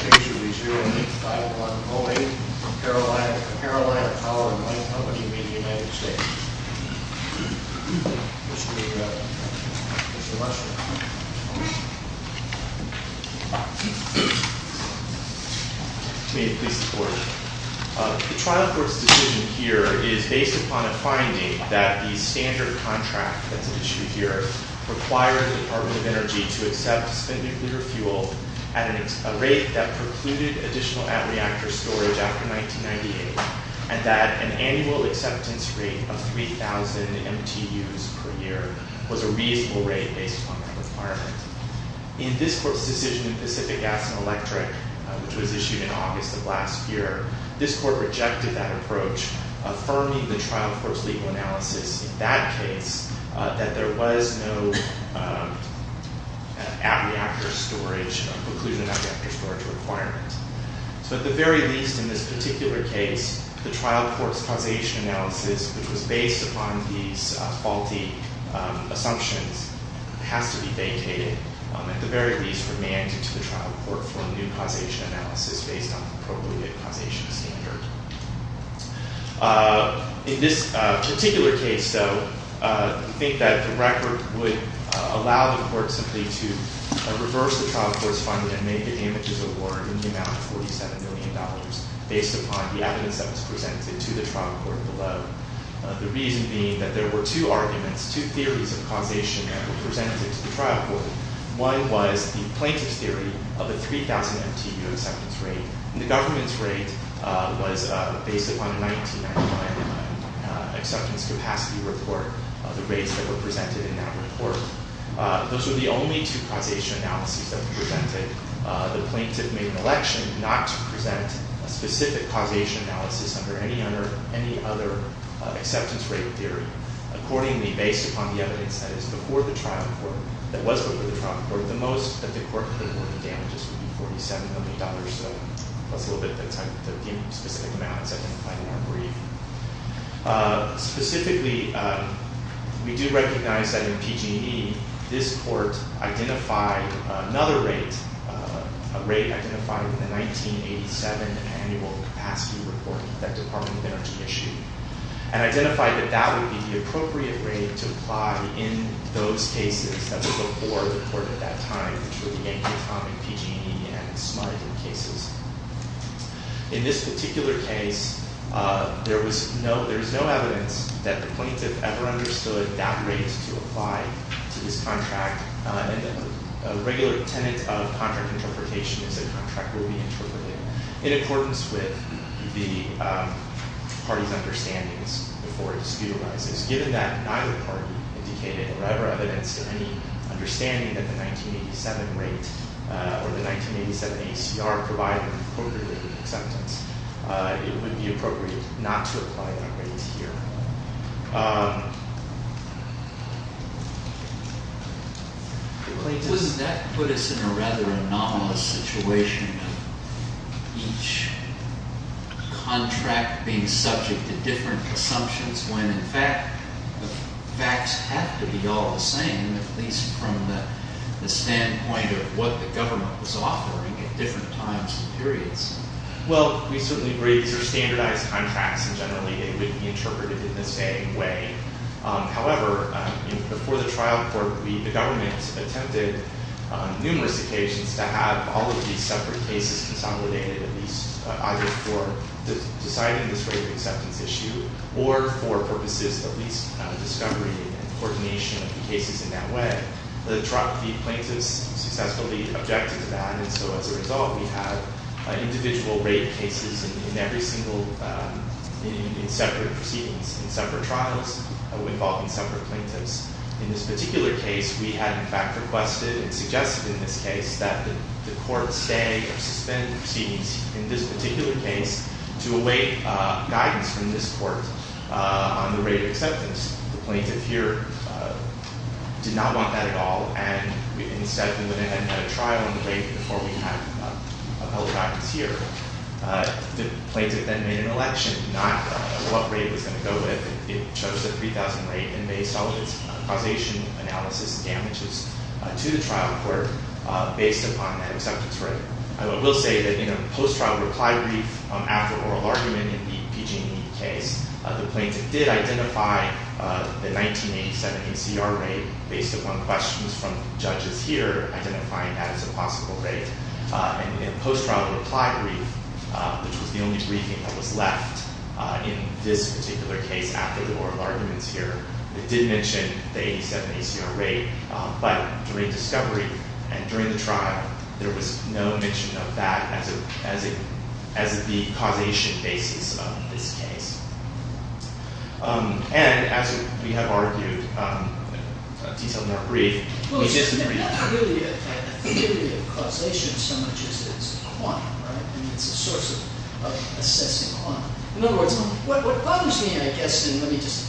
May it please the Court, the trial court's decision here is based upon a finding that the standard contract that's at issue here requires the Department of Energy to accept spent nuclear fuel at a rate that precluded additional at-reactor storage after 1998, and that an annual acceptance rate of 3,000 MTUs per year was a reasonable rate based upon that requirement. In this court's decision in Pacific Gas & Electric, which was issued in August of last year, this court rejected that approach, affirming the trial court's legal analysis in that case that there was no at-reactor storage or preclusion at-reactor storage requirement. So at the very least in this particular case, the trial court's causation analysis, which was based upon these faulty assumptions, has to be vacated, at the very least remanded to the trial court for a new causation analysis based on the In this particular case, though, I think that the record would allow the court simply to reverse the trial court's finding and make the damages award in the amount of $47 million based upon the evidence that was presented to the trial court below. The reason being that there were two arguments, two theories of causation that were presented to the trial court. One was the plaintiff's theory of a 3,000 MTU acceptance rate, and the government's acceptance rate was based upon a 1999 acceptance capacity report, the rates that were presented in that report. Those were the only two causation analyses that were presented. The plaintiff made an election not to present a specific causation analysis under any other acceptance rate theory. Accordingly, based upon the evidence that was before the trial court, the most that the court could award the damages would be $47 million, plus a little bit of the specific amounts identified in our brief. Specifically, we do recognize that in PG&E, this court identified another rate, a rate identified in the 1987 annual capacity report that the Department of Energy issued, and identified that that would be the appropriate rate to apply in those cases that were before the court at that time, which were the economic, PG&E, and smuggling cases. In this particular case, there was no evidence that the plaintiff ever understood that rate to apply to this contract, and a regular tenet of contract interpretation is a contract will be interpreted in accordance with the party's understandings before it was ever evidenced in any understanding that the 1987 rate, or the 1987 ACR provided for the acceptance. It would be appropriate not to apply that rate here. Doesn't that put us in a rather anomalous situation of each contract being subject to different assumptions when, in fact, the facts have to be all the same, at least from the standpoint of what the government was offering at different times and periods? Well, we certainly agree these are standardized contracts, and generally they would be interpreted in the same way. However, before the trial court, the government attempted on numerous occasions to have all of these separate cases consolidated, at least either for deciding this rate of acceptance issue, or for purposes of at least discovery and coordination of the cases in that way. The plaintiffs successfully objected to that, and so as a result, we have individual rate cases in every single, in separate proceedings, in separate trials, involving separate plaintiffs. In this particular case, we had in fact requested and suggested in this case that the court stay or suspend proceedings in this particular case to await guidance from this court on the rate of acceptance. The plaintiff here did not want that at all, and instead went ahead and had a trial on the rate before we had appellate guidance here. The plaintiff then made an election, not what rate it was going to go with. It chose a 3,000 rate, and based all of its causation analysis damages to the trial court, based upon that acceptance rate. However, I will say that in a post-trial reply brief after oral argument in the PG&E case, the plaintiff did identify the 1987 ACR rate based upon questions from judges here, identifying that as a possible rate. And in a post-trial reply brief, which was the only briefing that was left in this particular case after the oral arguments here, it did mention the 87 ACR rate, but during discovery and during the trial, there was no mention of that as the causation basis of this case. And as we have argued in a detailed in our brief, we disagree. Well, it's not really a theory of causation so much as it's a quantum, right? I mean, it's a source of assessing quantum. In other words, what bothers me, I guess, and let me just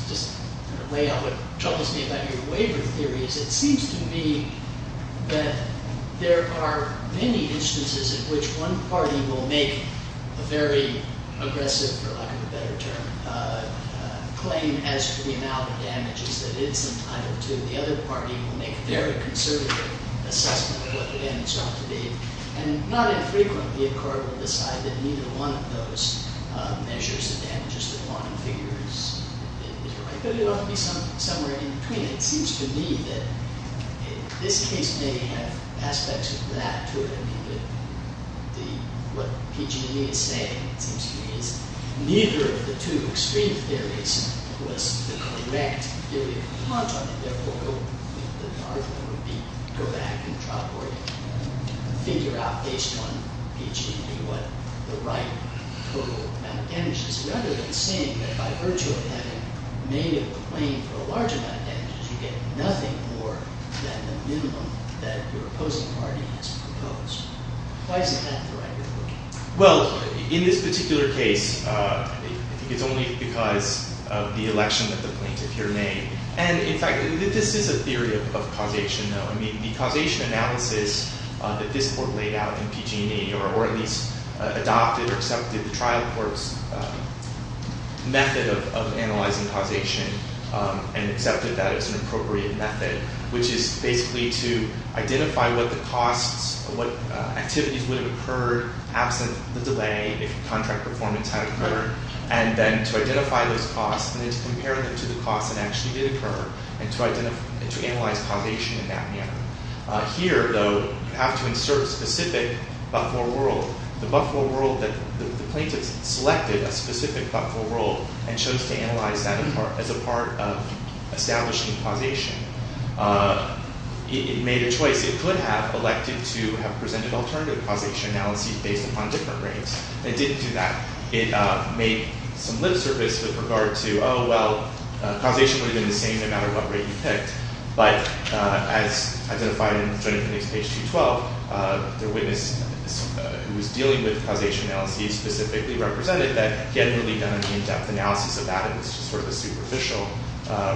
weigh out what troubles me about your waiver theory, is it seems to me that there are many instances in which one party will make a very aggressive, for lack of a better term, claim as to the amount of damages that it's entitled to. The other party will make a very conservative assessment of what the damage ought to be. And not infrequently, a court will decide that neither one of those measures the damages that one figures. But it ought to be somewhere in between. It seems to me that this case may have aspects of that to it. I mean, what PG&E is saying, it seems to me, is neither of the two extreme theories was the correct theory of quantum. And therefore, the argument would be, go back and try to figure out based on PG&E what the right total amount of damages. Rather than saying that by virtue of having made a claim for a large amount of damages, you get nothing more than the minimum that your opposing party has proposed. Why isn't that the right way of looking at it? Well, in this particular case, I think it's only because of the election that the plaintiff here made. And in fact, this is a theory of causation, though. I mean, the causation analysis that this court laid out in PG&E, or at least adopted or accepted the trial court's method of analyzing causation, and accepted that as an appropriate method, which is basically to identify what the costs, what activities would have occurred absent the delay if contract performance had occurred. And then to identify those costs, and then to compare them to the costs that actually did occur, and to analyze causation in that manner. Here, though, you have to insert a specific Buffalo world. The plaintiff selected a specific Buffalo world and chose to analyze that as a part of establishing causation. It made a choice. It could have elected to have presented alternative causation analyses based upon different rates. It didn't do that. It made some lip service with regard to, oh, well, causation would have been the same no matter what rate you picked. But as identified in the plaintiff's page 212, the witness who was dealing with causation analyses specifically represented that he hadn't really done an in-depth analysis of that. It was just sort of a superficial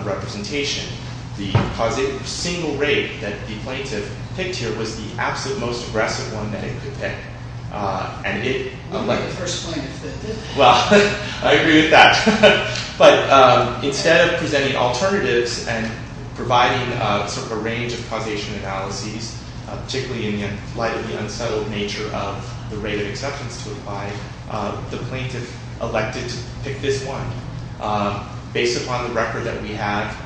representation. The single rate that the plaintiff picked here was the absolute most aggressive one that it could pick. It wasn't the first plaintiff that did that. Well, I agree with that. But instead of presenting alternatives and providing sort of a range of causation analyses, particularly in light of the unsettled nature of the rate of exceptions to apply, the plaintiff elected to pick this one. Based upon the record that we have,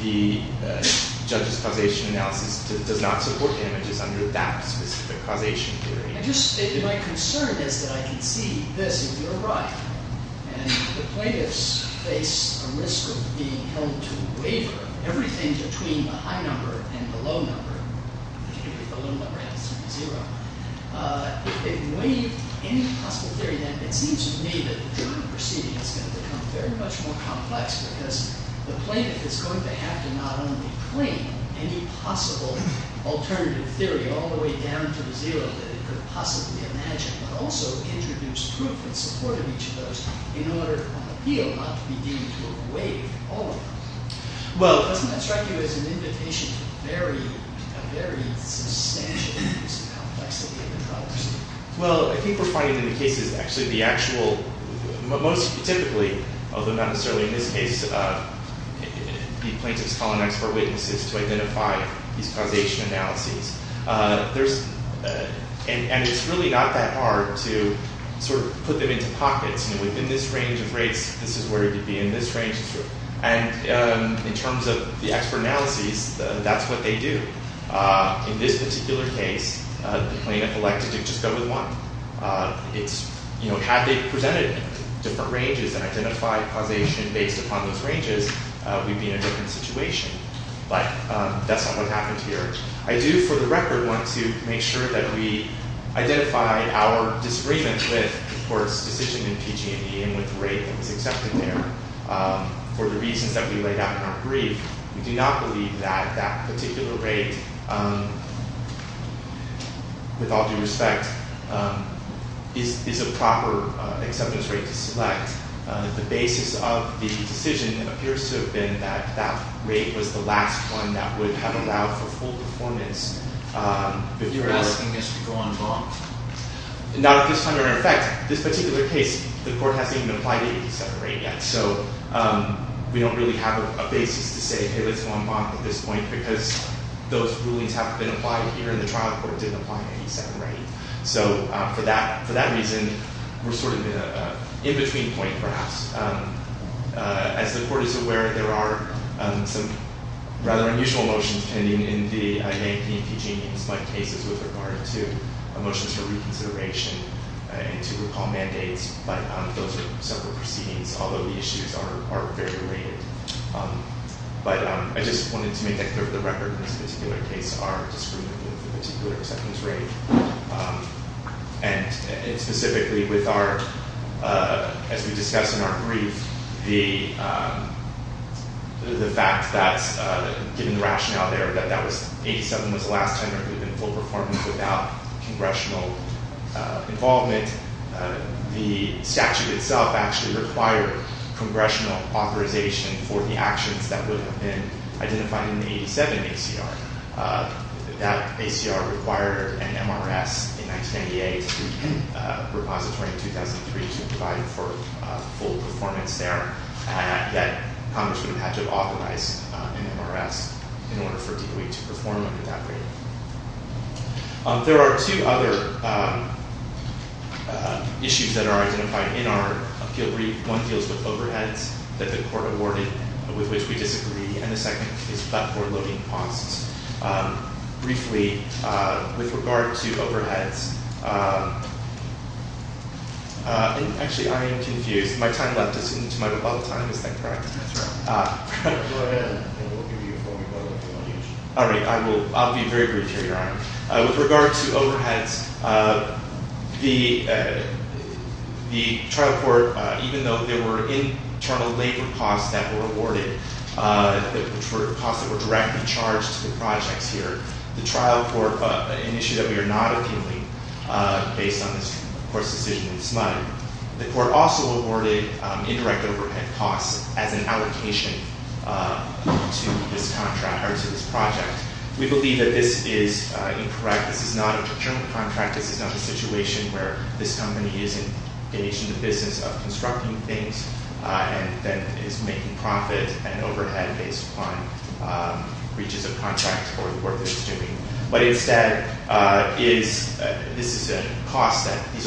the judge's causation analysis does not support images under that specific causation theory. My concern is that I can see this if you're right. And the plaintiffs face a risk of being held to a waiver. Everything between the high number and the low number, particularly if the low number has to be zero, if they waive any possible theory, then it seems to me that the jury proceeding is going to become very much more complex because the plaintiff is going to have to not only claim any possible alternative theory all the way down to the zero that it could possibly imagine, but also introduce proof in support of each of those in order on appeal not to be deemed to have waived all of them. Well, doesn't that strike you as an invitation to very, very substantially reduce the complexity of the causes? Well, I think we're finding in the cases, actually, the actual, most typically, although not necessarily in this case, the plaintiffs call on expert witnesses to identify these causation analyses. And it's really not that hard to sort of put them into pockets. Within this range of rates, this is where you'd be in this range. And in terms of the expert analyses, that's what they do. In this particular case, the plaintiff elected to just go with one. It's, you know, had they presented different ranges and identified causation based upon those ranges, we'd be in a different situation. But that's not what happened here. I do, for the record, want to make sure that we identify our disagreement with, of course, decision in PG&E and with the rate that was accepted there for the reasons that we laid out in our brief. We do not believe that that particular rate, with all due respect, is a proper acceptance rate to select. The basis of the decision appears to have been that that rate was the last one that would have allowed for full performance. You're asking us to go on bond? Not at this time or in effect. This particular case, the court hasn't even applied the 87 rate yet. So we don't really have a basis to say, hey, let's go on bond at this point because those rulings haven't been applied here and the trial court didn't apply the 87 rate. So for that reason, we're sort of in a in-between point, perhaps. As the court is aware, there are some rather unusual motions pending in the A&P and PG&E cases with regard to motions for reconsideration and to recall mandates, but those are separate proceedings, although the issues are very related. But I just wanted to make that clear for the record in this particular case, our disagreement with the particular acceptance rate. And specifically with our, as we discussed in our brief, the fact that, given the rationale there, that 87 was the last tender to have been full performance without congressional involvement. The statute itself actually required congressional authorization for the actions that would have been identified in the 87 ACR. That ACR required an MRS in 1998, a repository in 2003 to provide for full performance there. Yet Congress would have had to authorize an MRS in order for DOE to perform under that rate. There are two other issues that are identified in our appeal brief. One deals with overheads that the court awarded, with which we disagree. And the second is about forward-loading costs. Briefly, with regard to overheads, actually, I am confused. My time left is into my rebuttal time, is that correct? That's right. Go ahead, and we'll give you a full rebuttal if you want to use it. All right. I'll be very brief here, Your Honor. With regard to overheads, the trial court, even though there were internal labor costs that were awarded, which were costs that were directly charged to the projects here, the trial court, an issue that we are not appealing based on this court's decision this month, the court also awarded indirect overhead costs as an allocation to this project. We believe that this is incorrect. This is not a procurement contract. This is not a situation where this company is engaged in the business of constructing things and then is making profit and overhead based upon breaches of contract or the work that it's doing. But instead, these are costs that the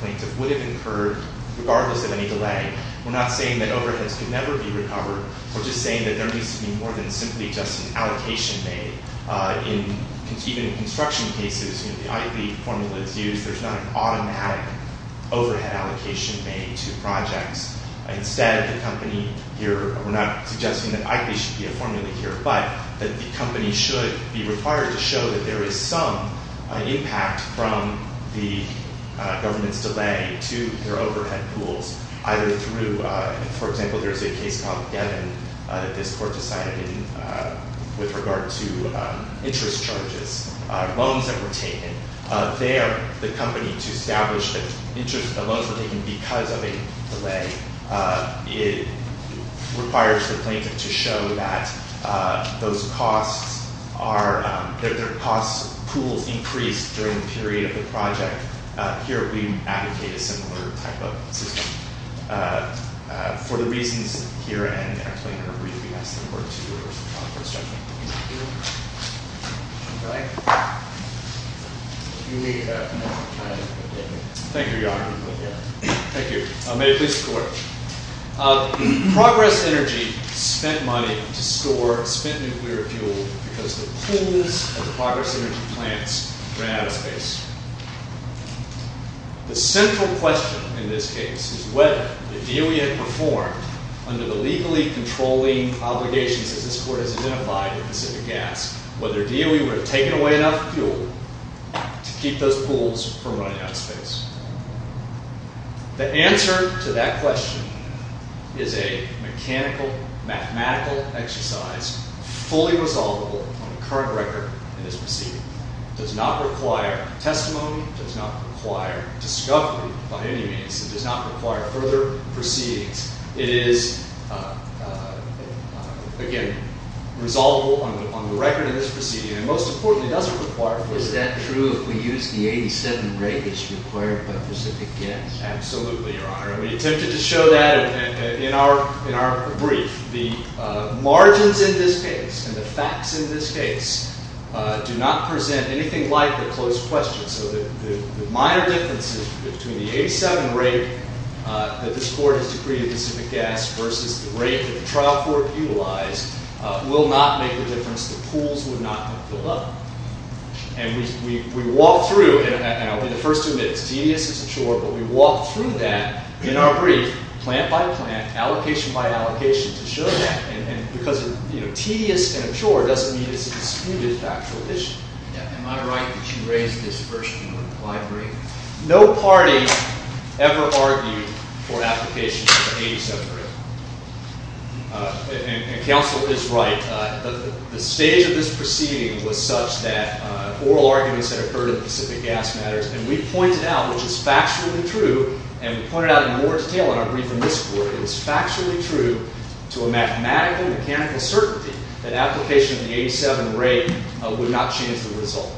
plaintiff would have incurred regardless of any delay. We're not saying that overheads could never be recovered. We're just saying that there needs to be more than simply just an allocation made. Even in construction cases, the ITE formula is used. There's not an automatic overhead allocation made to projects. Instead, the company here, we're not suggesting that ITE should be a formula here, but that the company should be required to show that there is some impact from the government's delay to their overhead pools, either through, for example, there's a case called Devon that this court decided with regard to interest charges, loans that were taken. There, the company, to establish that the loans were taken because of a delay, it requires the plaintiff to show that their cost pools increased during the period of the project. Here, we advocate a similar type of system. For the reasons here and in our plaintiff's review, we ask the court to reverse the contract. Thank you, Your Honor. Thank you. May it please the Court. Progress Energy spent money to store spent nuclear fuel because the pools of the Progress Energy plants ran out of space. The central question in this case is whether the DOE had performed, under the legally controlling obligations as this court has identified with Pacific Gas, whether DOE would have taken away enough fuel to keep those pools from running out of space. The answer to that question is a mechanical, mathematical exercise, fully resolvable on the current record in this proceeding. It does not require testimony. It does not require discovery by any means. It does not require further proceedings. It is, again, resolvable on the record in this proceeding. And most importantly, it doesn't require testimony. Is that true if we use the 87 rate as required by Pacific Gas? Absolutely, Your Honor. And we attempted to show that in our brief. The margins in this case and the facts in this case do not present anything like the closed question. So the minor differences between the 87 rate that this Court has decreed at Pacific Gas versus the rate that the trial court utilized will not make the difference. The pools would not have filled up. And we walked through, and I'll be the first to admit it's tedious and absurd, but we walked through that in our brief, plant by plant, allocation by allocation, to show that. And because it's tedious and absurd doesn't mean it's a disputed factual issue. Am I right that you raised this first in your implied brief? No party ever argued for application of the 87 rate. And counsel is right. The stage of this proceeding was such that oral arguments had occurred in Pacific Gas matters. And we pointed out, which is factually true, and we pointed out in more detail in our brief in this court, it's factually true to a mathematical and mechanical certainty that application of the 87 rate would not change the result.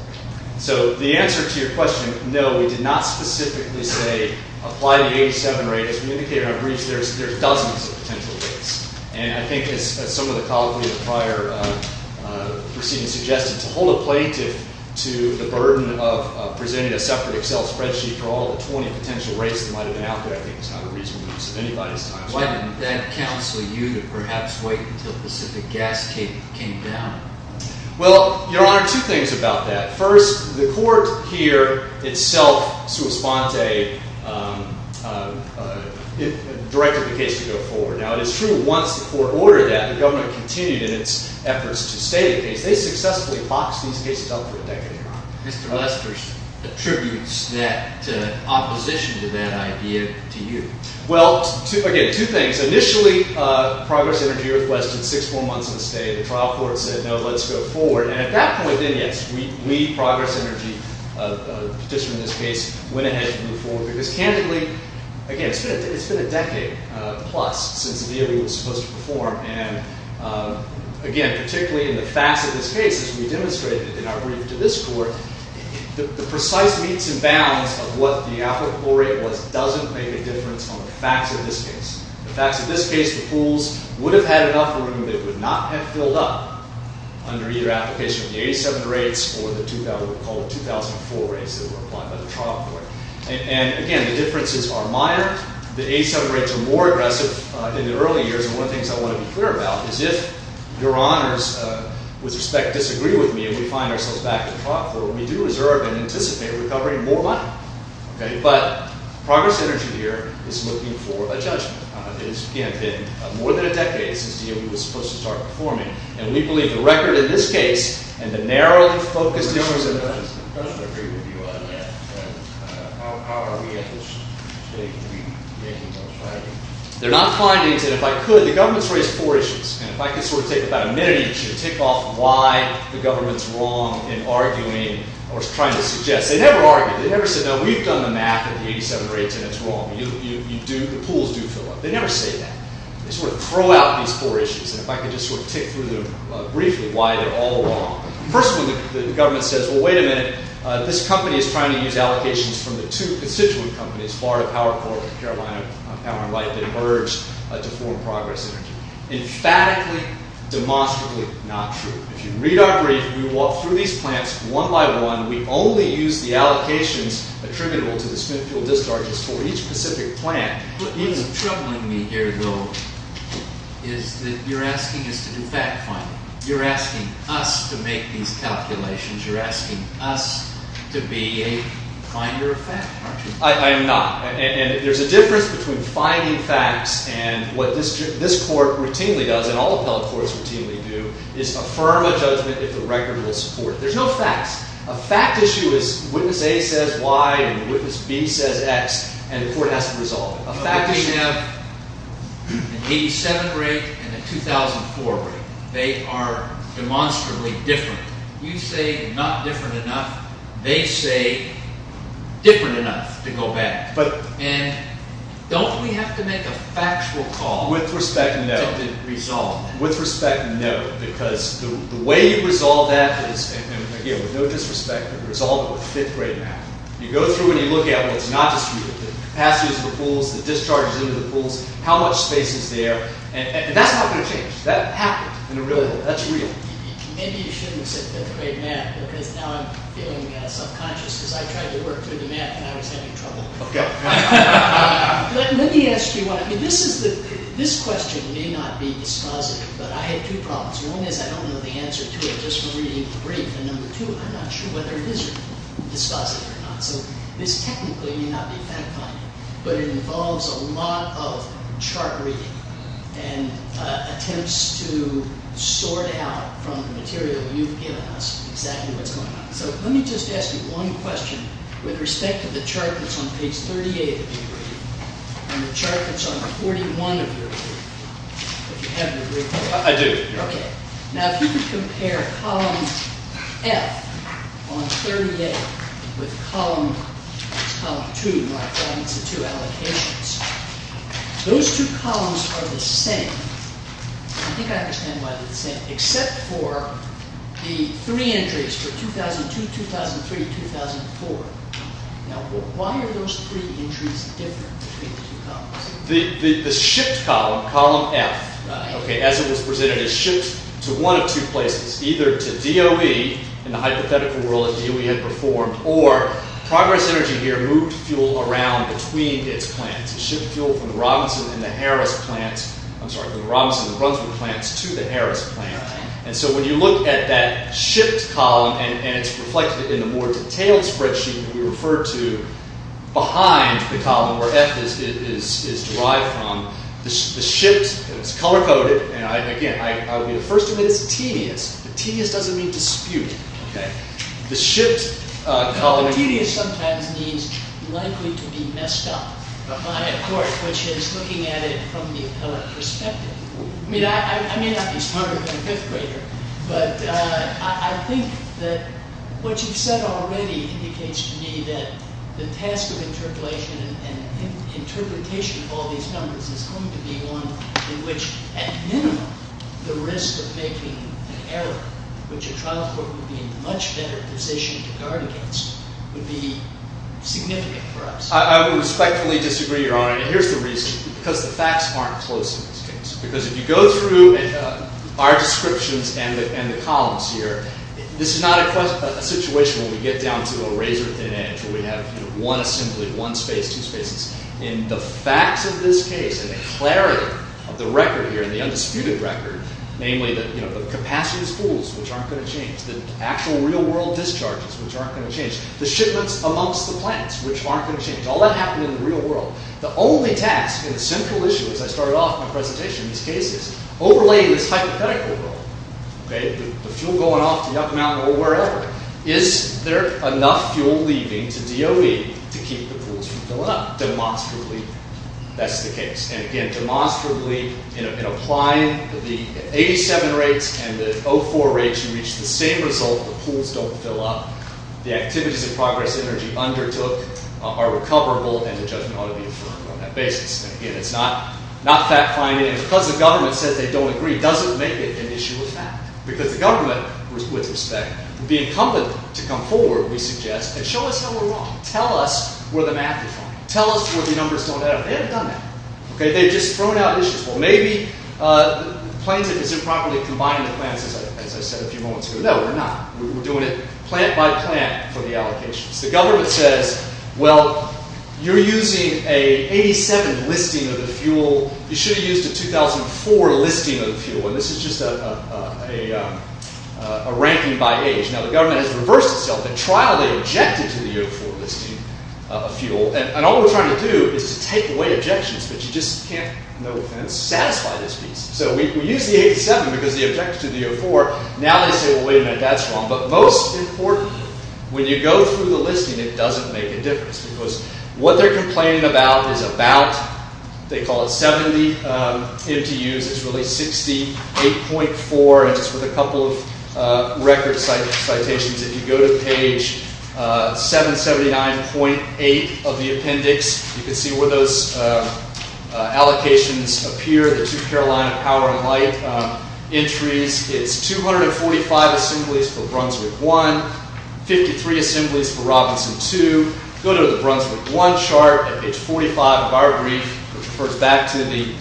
So the answer to your question, no, we did not specifically say apply the 87 rate. As we indicated in our briefs, there's dozens of potential rates. And I think as some of the colleagues in the prior proceeding suggested, to hold a plaintiff to the burden of presenting a separate Excel spreadsheet for all the 20 potential rates that might have been out there I think is not a reasonable use of anybody's time. Why didn't that counsel you to perhaps wait until Pacific Gas came down? Well, Your Honor, two things about that. First, the court here itself, sua sponte, directed the case to go forward. Now, it is true once the court ordered that, the government continued in its efforts to stay the case. They successfully boxed these cases up for a decade, Your Honor. Mr. Lester attributes that opposition to that idea to you. Well, again, two things. Initially, Progress Energy Northwest did six full months of the stay. The trial court said, no, let's go forward. And at that point then, yes, we, Progress Energy, a petitioner in this case, went ahead and moved forward. Because candidly, again, it's been a decade plus since the deal was supposed to perform. And again, particularly in the facts of this case, as we demonstrated in our brief to this court, the precise meets and bounds of what the applicable rate was doesn't make a difference on the facts of this case. The facts of this case, the pools would have had enough room. They would not have filled up under either application of the 87 rates or the 2004 rates that were applied by the trial court. And again, the differences are minor. The 87 rates are more aggressive in the early years. And one of the things I want to be clear about is if Your Honors, with respect, disagree with me and we find ourselves back to the trial court, we do reserve and anticipate recovering more money. But Progress Energy here is looking for a judgment. It has, again, been more than a decade since the deal was supposed to start performing. And we believe the record in this case and the narrowly focused deal was a good one. And how are we at this stage? Are we making those findings? They're not findings. And if I could, the government's raised four issues. And if I could sort of take about a minute each and tick off why the government's wrong in arguing or trying to suggest. They never argued. They never said, no, we've done the math of the 87 rates and it's wrong. You do. The pools do fill up. They never say that. They sort of throw out these four issues. And if I could just sort of tick through them briefly why they're all wrong. First of all, the government says, well, wait a minute. This company is trying to use allocations from the two constituent companies, Florida Power Corp and Carolina Power and Light, that emerged to form Progress Energy. Emphatically, demonstrably not true. If you read our brief, we walk through these plants one by one. We only use the allocations attributable to the spent fuel discharges for each specific plant. What's troubling me here, though, is that you're asking us to do fact-finding. You're asking us to make these calculations. You're asking us to be a finder of fact, aren't you? I am not. And there's a difference between finding facts and what this court routinely does, and all appellate courts routinely do, is affirm a judgment if the record will support it. There's no facts. A fact issue is witness A says Y and witness B says X and the court has to resolve it. A fact issue. We have an 87 rate and a 2004 rate. They are demonstrably different. You say not different enough. They say different enough to go back. And don't we have to make a factual call? With respect, no. To resolve it. With respect, no. Because the way you resolve that is, again, with no disrespect, you resolve it with fifth grade math. You go through and you look at what's not disputed, the capacity of the pools, the discharges into the pools, how much space is there. And that's not going to change. That happened in the real world. That's real. Maybe you shouldn't have said fifth grade math because now I'm feeling subconscious because I tried to work through the math and I was having trouble. Okay. Let me ask you one. This question may not be dispositive, but I had two problems. One is I don't know the answer to it just from reading the brief. And number two, I'm not sure whether it is dispositive or not. So this technically may not be fact finding, but it involves a lot of chart reading and attempts to sort out from the material you've given us exactly what's going on. So let me just ask you one question. With respect to the chart that's on page 38 of your brief and the chart that's on 41 of your brief, if you have your brief. I do. Okay. Now, if you could compare column F on 38 with column 2, where I find the two allocations, those two columns are the same. I think I understand why they're the same, except for the three entries for 2002, 2003, 2004. Now, why are those three entries different between the two columns? The shipped column, column F. Okay. As it was presented as shipped to one of two places, either to DOE in the hypothetical world that DOE had performed, or Progress Energy here moved fuel around between its plants. It shipped fuel from the Robinson and the Harris plants. I'm sorry, the Robinson and Brunswick plants to the Harris plant. And so when you look at that shipped column, and it's reflected in the more detailed spreadsheet that we refer to behind the column where F is derived from. The shipped, it's color-coded, and again, I'll be the first to admit it's tedious. But tedious doesn't mean disputed. Okay. The shipped column. Now, tedious sometimes means likely to be messed up by a court, which is looking at it from the appellate perspective. I mean, I may not be smarter than a fifth grader, but I think that what you've said already indicates to me that the task of interpolation and interpretation of all these numbers is going to be one in which, at minimum, the risk of making an error, which a trial court would be in much better position to guard against, would be significant for us. I respectfully disagree, Your Honor. And here's the reason. Because the facts aren't close in this case. Because if you go through our descriptions and the columns here, this is not a situation where we get down to a razor-thin edge where we have one assembly, one space, two spaces. In the facts of this case, in the clarity of the record here, the undisputed record, namely the capacity of the pools, which aren't going to change, the actual real-world discharges, which aren't going to change, the shipments amongst the plants, which aren't going to change. All that happened in the real world. The only task in the simple issue, as I started off my presentation in this case, is overlaying this hypothetical world. The fuel going off to Yucca Mountain or wherever. Is there enough fuel leaving to DOE to keep the pools from filling up? Demonstrably, that's the case. And again, demonstrably, in applying the 87 rates and the 04 rates, you reach the same result. The pools don't fill up. The activities of progress energy undertook are recoverable, and the judgment ought to be affirmed on that basis. And again, it's not fact-finding. And because the government says they don't agree doesn't make it an issue of fact. Because the government, with respect, would be incumbent to come forward, we suggest, and show us how we're wrong. Tell us where the math is wrong. Tell us where the numbers don't add up. They haven't done that. They've just thrown out issues. Well, maybe the plan is improperly combining the plans, as I said a few moments ago. No, we're not. We're doing it plant by plant for the allocations. The government says, well, you're using an 87 listing of the fuel. You should have used a 2004 listing of the fuel. And this is just a ranking by age. Now, the government has reversed itself. At trial, they objected to the 2004 listing of fuel. And all we're trying to do is to take away objections. But you just can't, no offense, satisfy this piece. So we use the 87 because we objected to the 2004. Now they say, well, wait a minute, that's wrong. But most importantly, when you go through the listing, it doesn't make a difference. Because what they're complaining about is about, they call it 70 MTUs, it's really 68.4. And just with a couple of record citations, if you go to page 779.8 of the appendix, you can see where those allocations appear, the two Carolina Power and Light entries. It's 245 assemblies for Brunswick 1, 53 assemblies for Robinson 2. Go to the Brunswick 1 chart at page 45 of our brief, which refers back to the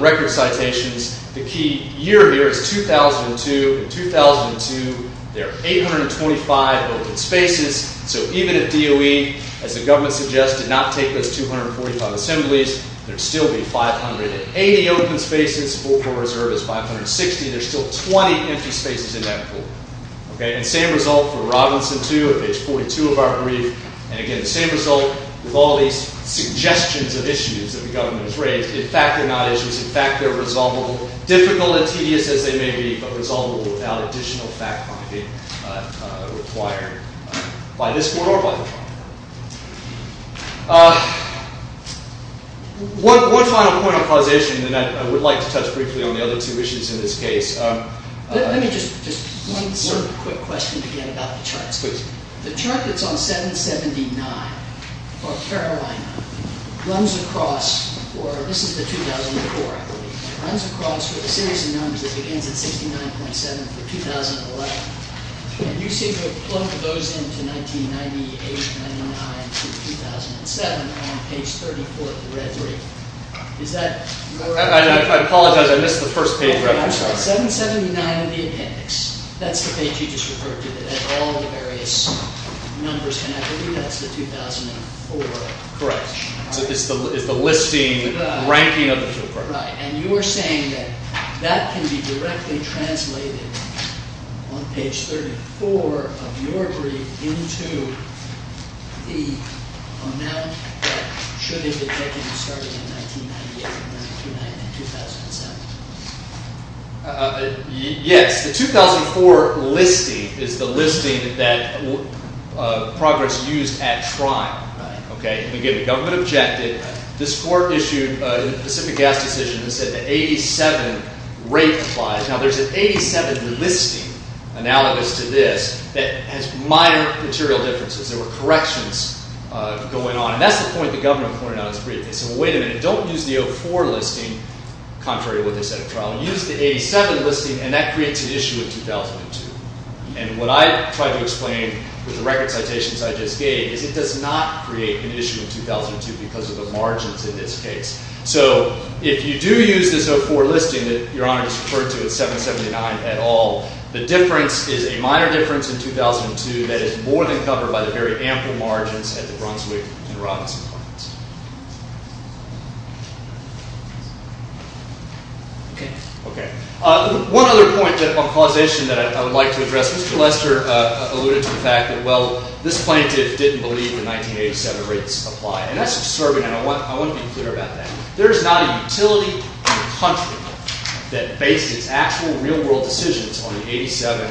record citations. The key year here is 2002. In 2002, there are 825 open spaces. So even if DOE, as the government suggests, did not take those 245 assemblies, there would still be 580 open spaces. The full reserve is 560. There's still 20 empty spaces in that pool. And same result for Robinson 2 at page 42 of our brief. And again, the same result with all these suggestions of issues that the government has raised. In fact, they're not issues. In fact, they're resolvable, difficult and tedious as they may be, but resolvable without additional fact-finding required by this board or by the board. One final point of causation that I would like to touch briefly on the other two issues in this case. Let me just answer a quick question again about the charts. Please. The chart that's on 779, or Carolina, runs across, or this is the 2004, I believe, runs across a series of numbers that begins at 69.7 for 2011. And you seem to have plugged those into 1998, 1999 to 2007 on page 34 of the red brief. Is that correct? I apologize. I missed the first page. 779 in the appendix. That's the page you just referred to that has all the various numbers. And I believe that's the 2004. Correct. It's the listing, the ranking of the field project. Right. And you were saying that that can be directly translated on page 34 of your brief into the amount that should have been taken starting in 1998, 1999, and 2007. Yes. The 2004 listing is the listing that progress used at trial. Right. Okay. Again, the government objected. This court issued a specific gas decision that said the 87 rate applies. Now, there's an 87 listing, analogous to this, that has minor material differences. There were corrections going on. And that's the point the government pointed out in its brief. They said, well, wait a minute. Don't use the 04 listing, contrary to what they said at trial. Use the 87 listing, and that creates an issue in 2002. And what I tried to explain with the record citations I just gave is it does not create an issue in 2002 because of the margins in this case. So if you do use this 04 listing that Your Honor just referred to at 779 at all, the difference is a minor difference in 2002 that is more than covered by the very ample margins at the Brunswick and Robinson Plaintiffs. Okay. Okay. One other point on causation that I would like to address. Mr. Lester alluded to the fact that, well, this plaintiff didn't believe the 1987 rates apply. And that's absurd, and I want to be clear about that. There is not a utility in the country that based its actual real-world decisions on the 87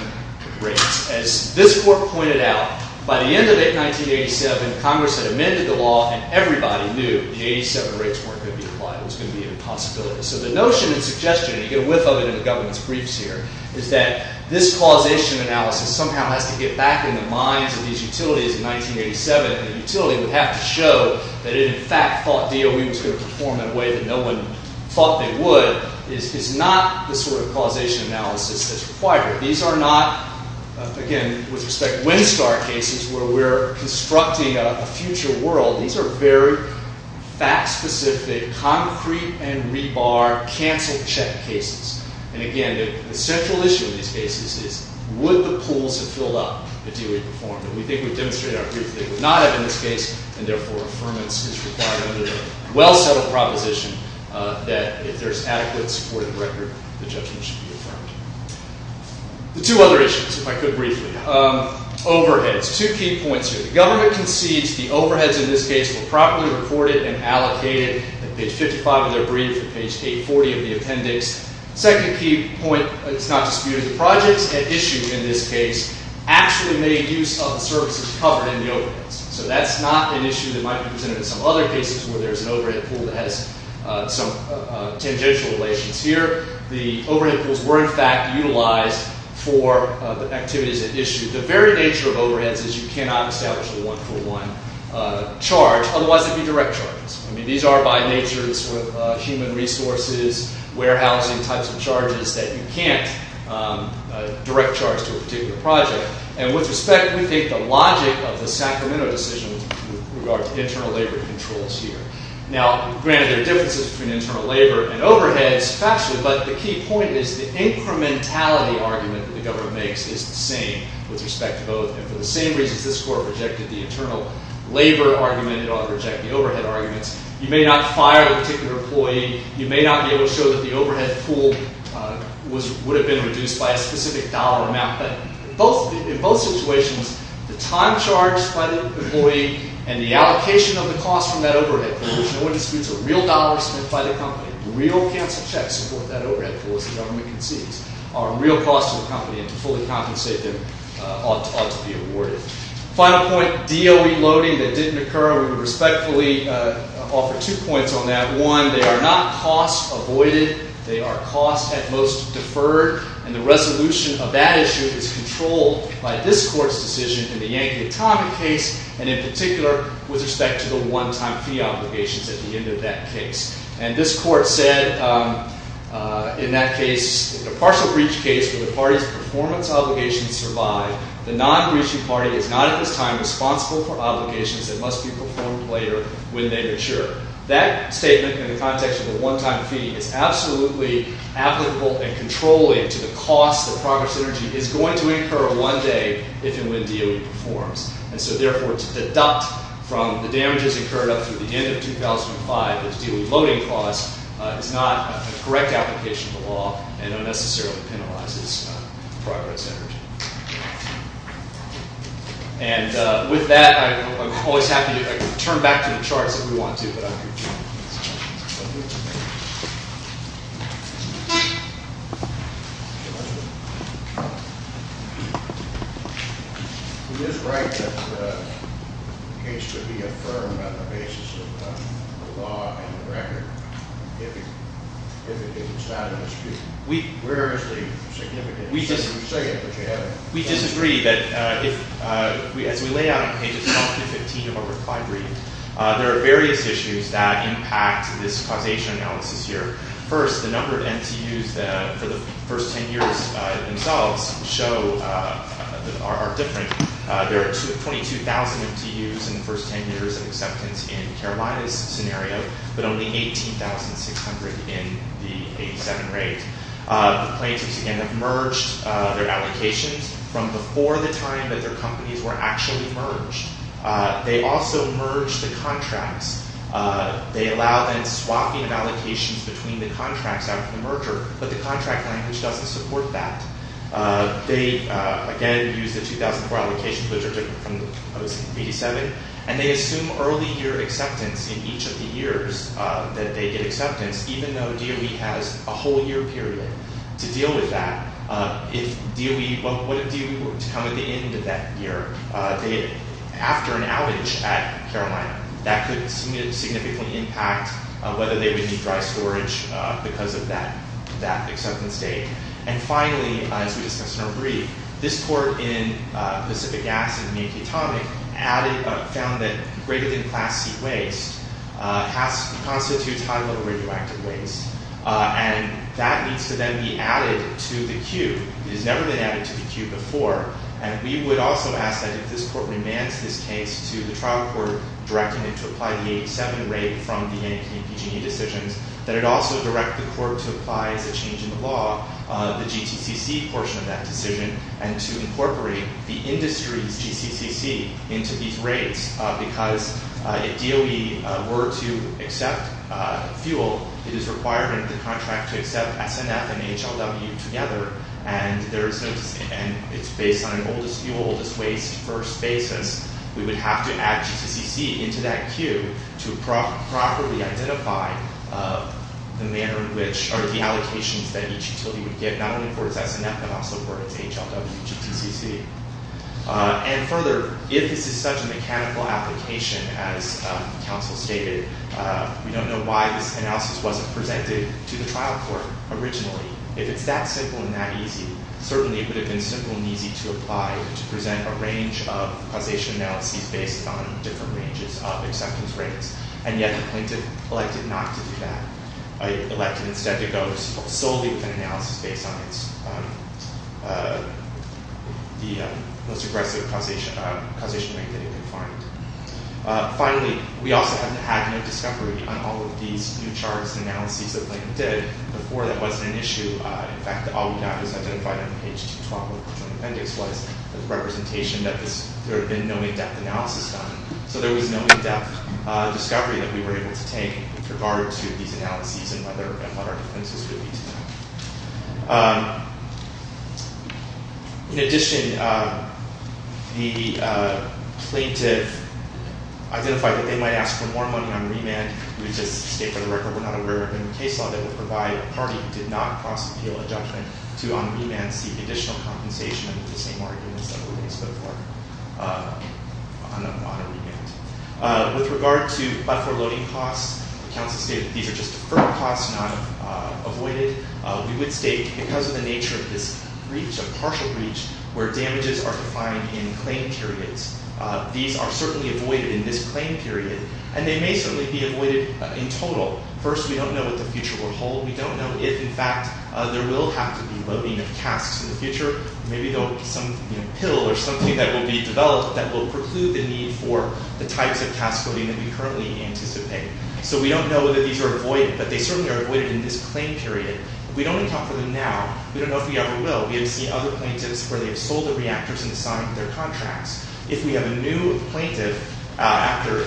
rates. As this court pointed out, by the end of 1987, Congress had amended the law, and everybody knew the 87 rates weren't going to be applied. It was going to be an impossibility. So the notion and suggestion, and you get a whiff of it in the government's briefs here, is that this causation analysis somehow has to get back in the minds of these utilities in 1987. And the utility would have to show that it, in fact, thought DOE was going to perform in a way that no one thought they would is not the sort of causation analysis that's required. These are not, again, with respect to Windstar cases where we're constructing a future world. These are very fact-specific, concrete-and-rebar, cancel-check cases. And, again, the central issue in these cases is would the pools have filled up if DOE performed. And we think we've demonstrated our proof they would not have in this case, and, therefore, affirmance is required under the well-settled proposition that if there's adequate, supported record, the judgment should be affirmed. The two other issues, if I could briefly. Overheads, two key points here. The government concedes the overheads in this case were properly reported and allocated at page 55 of their brief and page 840 of the appendix. Second key point, it's not disputed, the projects at issue in this case actually made use of the services covered in the overheads. So that's not an issue that might be presented in some other cases where there's an overhead pool that has some tangential relations here. The overhead pools were, in fact, utilized for the activities at issue. The very nature of overheads is you cannot establish a one-for-one charge. Otherwise, there'd be direct charges. I mean, these are, by nature, human resources, warehousing types of charges that you can't direct charge to a particular project. And with respect, we think the logic of the Sacramento decision with regard to internal labor controls here. Now, granted there are differences between internal labor and overheads, but the key point is the incrementality argument that the government makes is the same with respect to both. And for the same reasons this Court rejected the internal labor argument, it ought to reject the overhead arguments. You may not fire a particular employee. You may not be able to show that the overhead pool would have been reduced by a specific dollar amount. But in both situations, the time charged by the employee and the allocation of the cost from that overhead pool, which no one disputes are real dollars spent by the company, real cancel checks for that overhead pool, as the government concedes, are a real cost to the company. And to fully compensate them ought to be awarded. Final point, DOE loading that didn't occur. We would respectfully offer two points on that. One, they are not cost avoided. They are cost at most deferred. And the resolution of that issue is controlled by this Court's decision in the Yankee Atomic case, and in particular with respect to the one-time fee obligations at the end of that case. And this Court said in that case, the partial breach case where the party's performance obligations survive, the non-breaching party is not at this time responsible for obligations that must be performed later when they mature. That statement in the context of the one-time fee is absolutely applicable and controlling to the cost that Progress Energy is going to incur one day if and when DOE performs. And so, therefore, to deduct from the damages incurred up to the end of 2005 as DOE loading costs is not a correct application of the law and unnecessarily penalizes Progress Energy. And with that, I'm always happy to turn back to the charts if we want to, but I'm confused. It is right that the case should be affirmed on the basis of the law and the record if it is established. Where is the significance? We disagree that if, as we lay out on pages 12 through 15 of our reply brief, there are various issues that impact this causation analysis here. First, the number of MTUs for the first 10 years themselves are different. There are 22,000 MTUs in the first 10 years of acceptance in Carolina's scenario, but only 18,600 in the 87 rate. The plaintiffs, again, have merged their allocations from before the time that their companies were actually merged. They also merge the contracts. They allow then swapping of allocations between the contracts after the merger, but the contract language doesn't support that. They, again, use the 2004 allocations, which are different from those in 87, and they assume early year acceptance in each of the years that they get acceptance, even though DOE has a whole year period to deal with that. If DOE, what if DOE were to come at the end of that year? After an outage at Carolina, that could significantly impact whether they would need dry storage because of that acceptance date. And finally, as we discussed in our brief, this court in Pacific Gas and Mink Atomic found that greater-than-class C waste constitutes high-level radioactive waste, and that needs to then be added to the queue. It has never been added to the queue before, and we would also ask that if this court remands this case to the trial court directing it to apply the 87 rate from the APG&E decisions, that it also direct the court to apply, as a change in the law, the GTCC portion of that decision and to incorporate the industry's GTCC into these rates because if DOE were to accept fuel, it is required in the contract to accept SNF and HLW together, and it's based on an oldest fuel, oldest waste, first basis. We would have to add GTCC into that queue to properly identify the manner in which, or the allocations that each utility would get, not only for its SNF but also for its HLW GTCC. And further, if this is such a mechanical application, as counsel stated, we don't know why this analysis wasn't presented to the trial court originally. If it's that simple and that easy, certainly it would have been simple and easy to apply to present a range of causation analyses based on different ranges of acceptance rates, and yet the plaintiff elected not to do that. Elected instead to go solely with an analysis based on the most aggressive causation rate that he could find. Finally, we also haven't had no discovery on all of these new charts and analyses that the plaintiff did. Before, that wasn't an issue. In fact, all we got was identified on page 212 of the appendix was a representation that there had been no in-depth analysis done. So there was no in-depth discovery that we were able to take with regard to these analyses and what our defenses would be to them. In addition, the plaintiff identified that they might ask for more money on remand. We just state for the record we're not aware of any case law that would provide a party who did not cross-appeal a judgment to on remand seek additional compensation under the same arguments that were made before on a remand. With regard to buffer loading costs, the counsel stated that these are just deferral costs not avoided. We would state because of the nature of this breach, a partial breach, where damages are defined in claim periods, these are certainly avoided in this claim period, and they may certainly be avoided in total. First, we don't know what the future will hold. We don't know if, in fact, there will have to be loading of casks in the future. Maybe there will be some pill or something that will be developed that will preclude the need for the types of cask loading that we currently anticipate. So we don't know whether these are avoided, but they certainly are avoided in this claim period. If we don't account for them now, we don't know if we ever will. We have seen other plaintiffs where they have sold the reactors and signed their contracts. If we have a new plaintiff after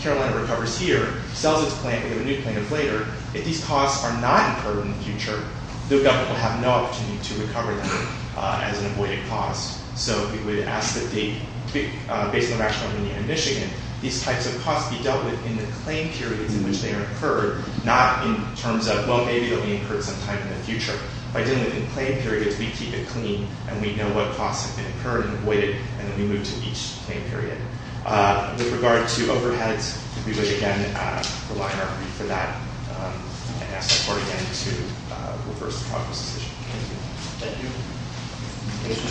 Carolina recovers here, sells its plant, we have a new plaintiff later, if these costs are not incurred in the future, the government will have no opportunity to recover them as an avoided cost. So we would ask that, based on the rationale of Indiana and Michigan, these types of costs be dealt with in the claim periods in which they are incurred, not in terms of, well, maybe they'll be incurred sometime in the future. By dealing with the claim periods, we keep it clean, and we know what costs have been incurred and avoided, and then we move to each claim period. With regard to overheads, we would, again, rely on our brief for that and ask the court, again, to reverse the process. Thank you.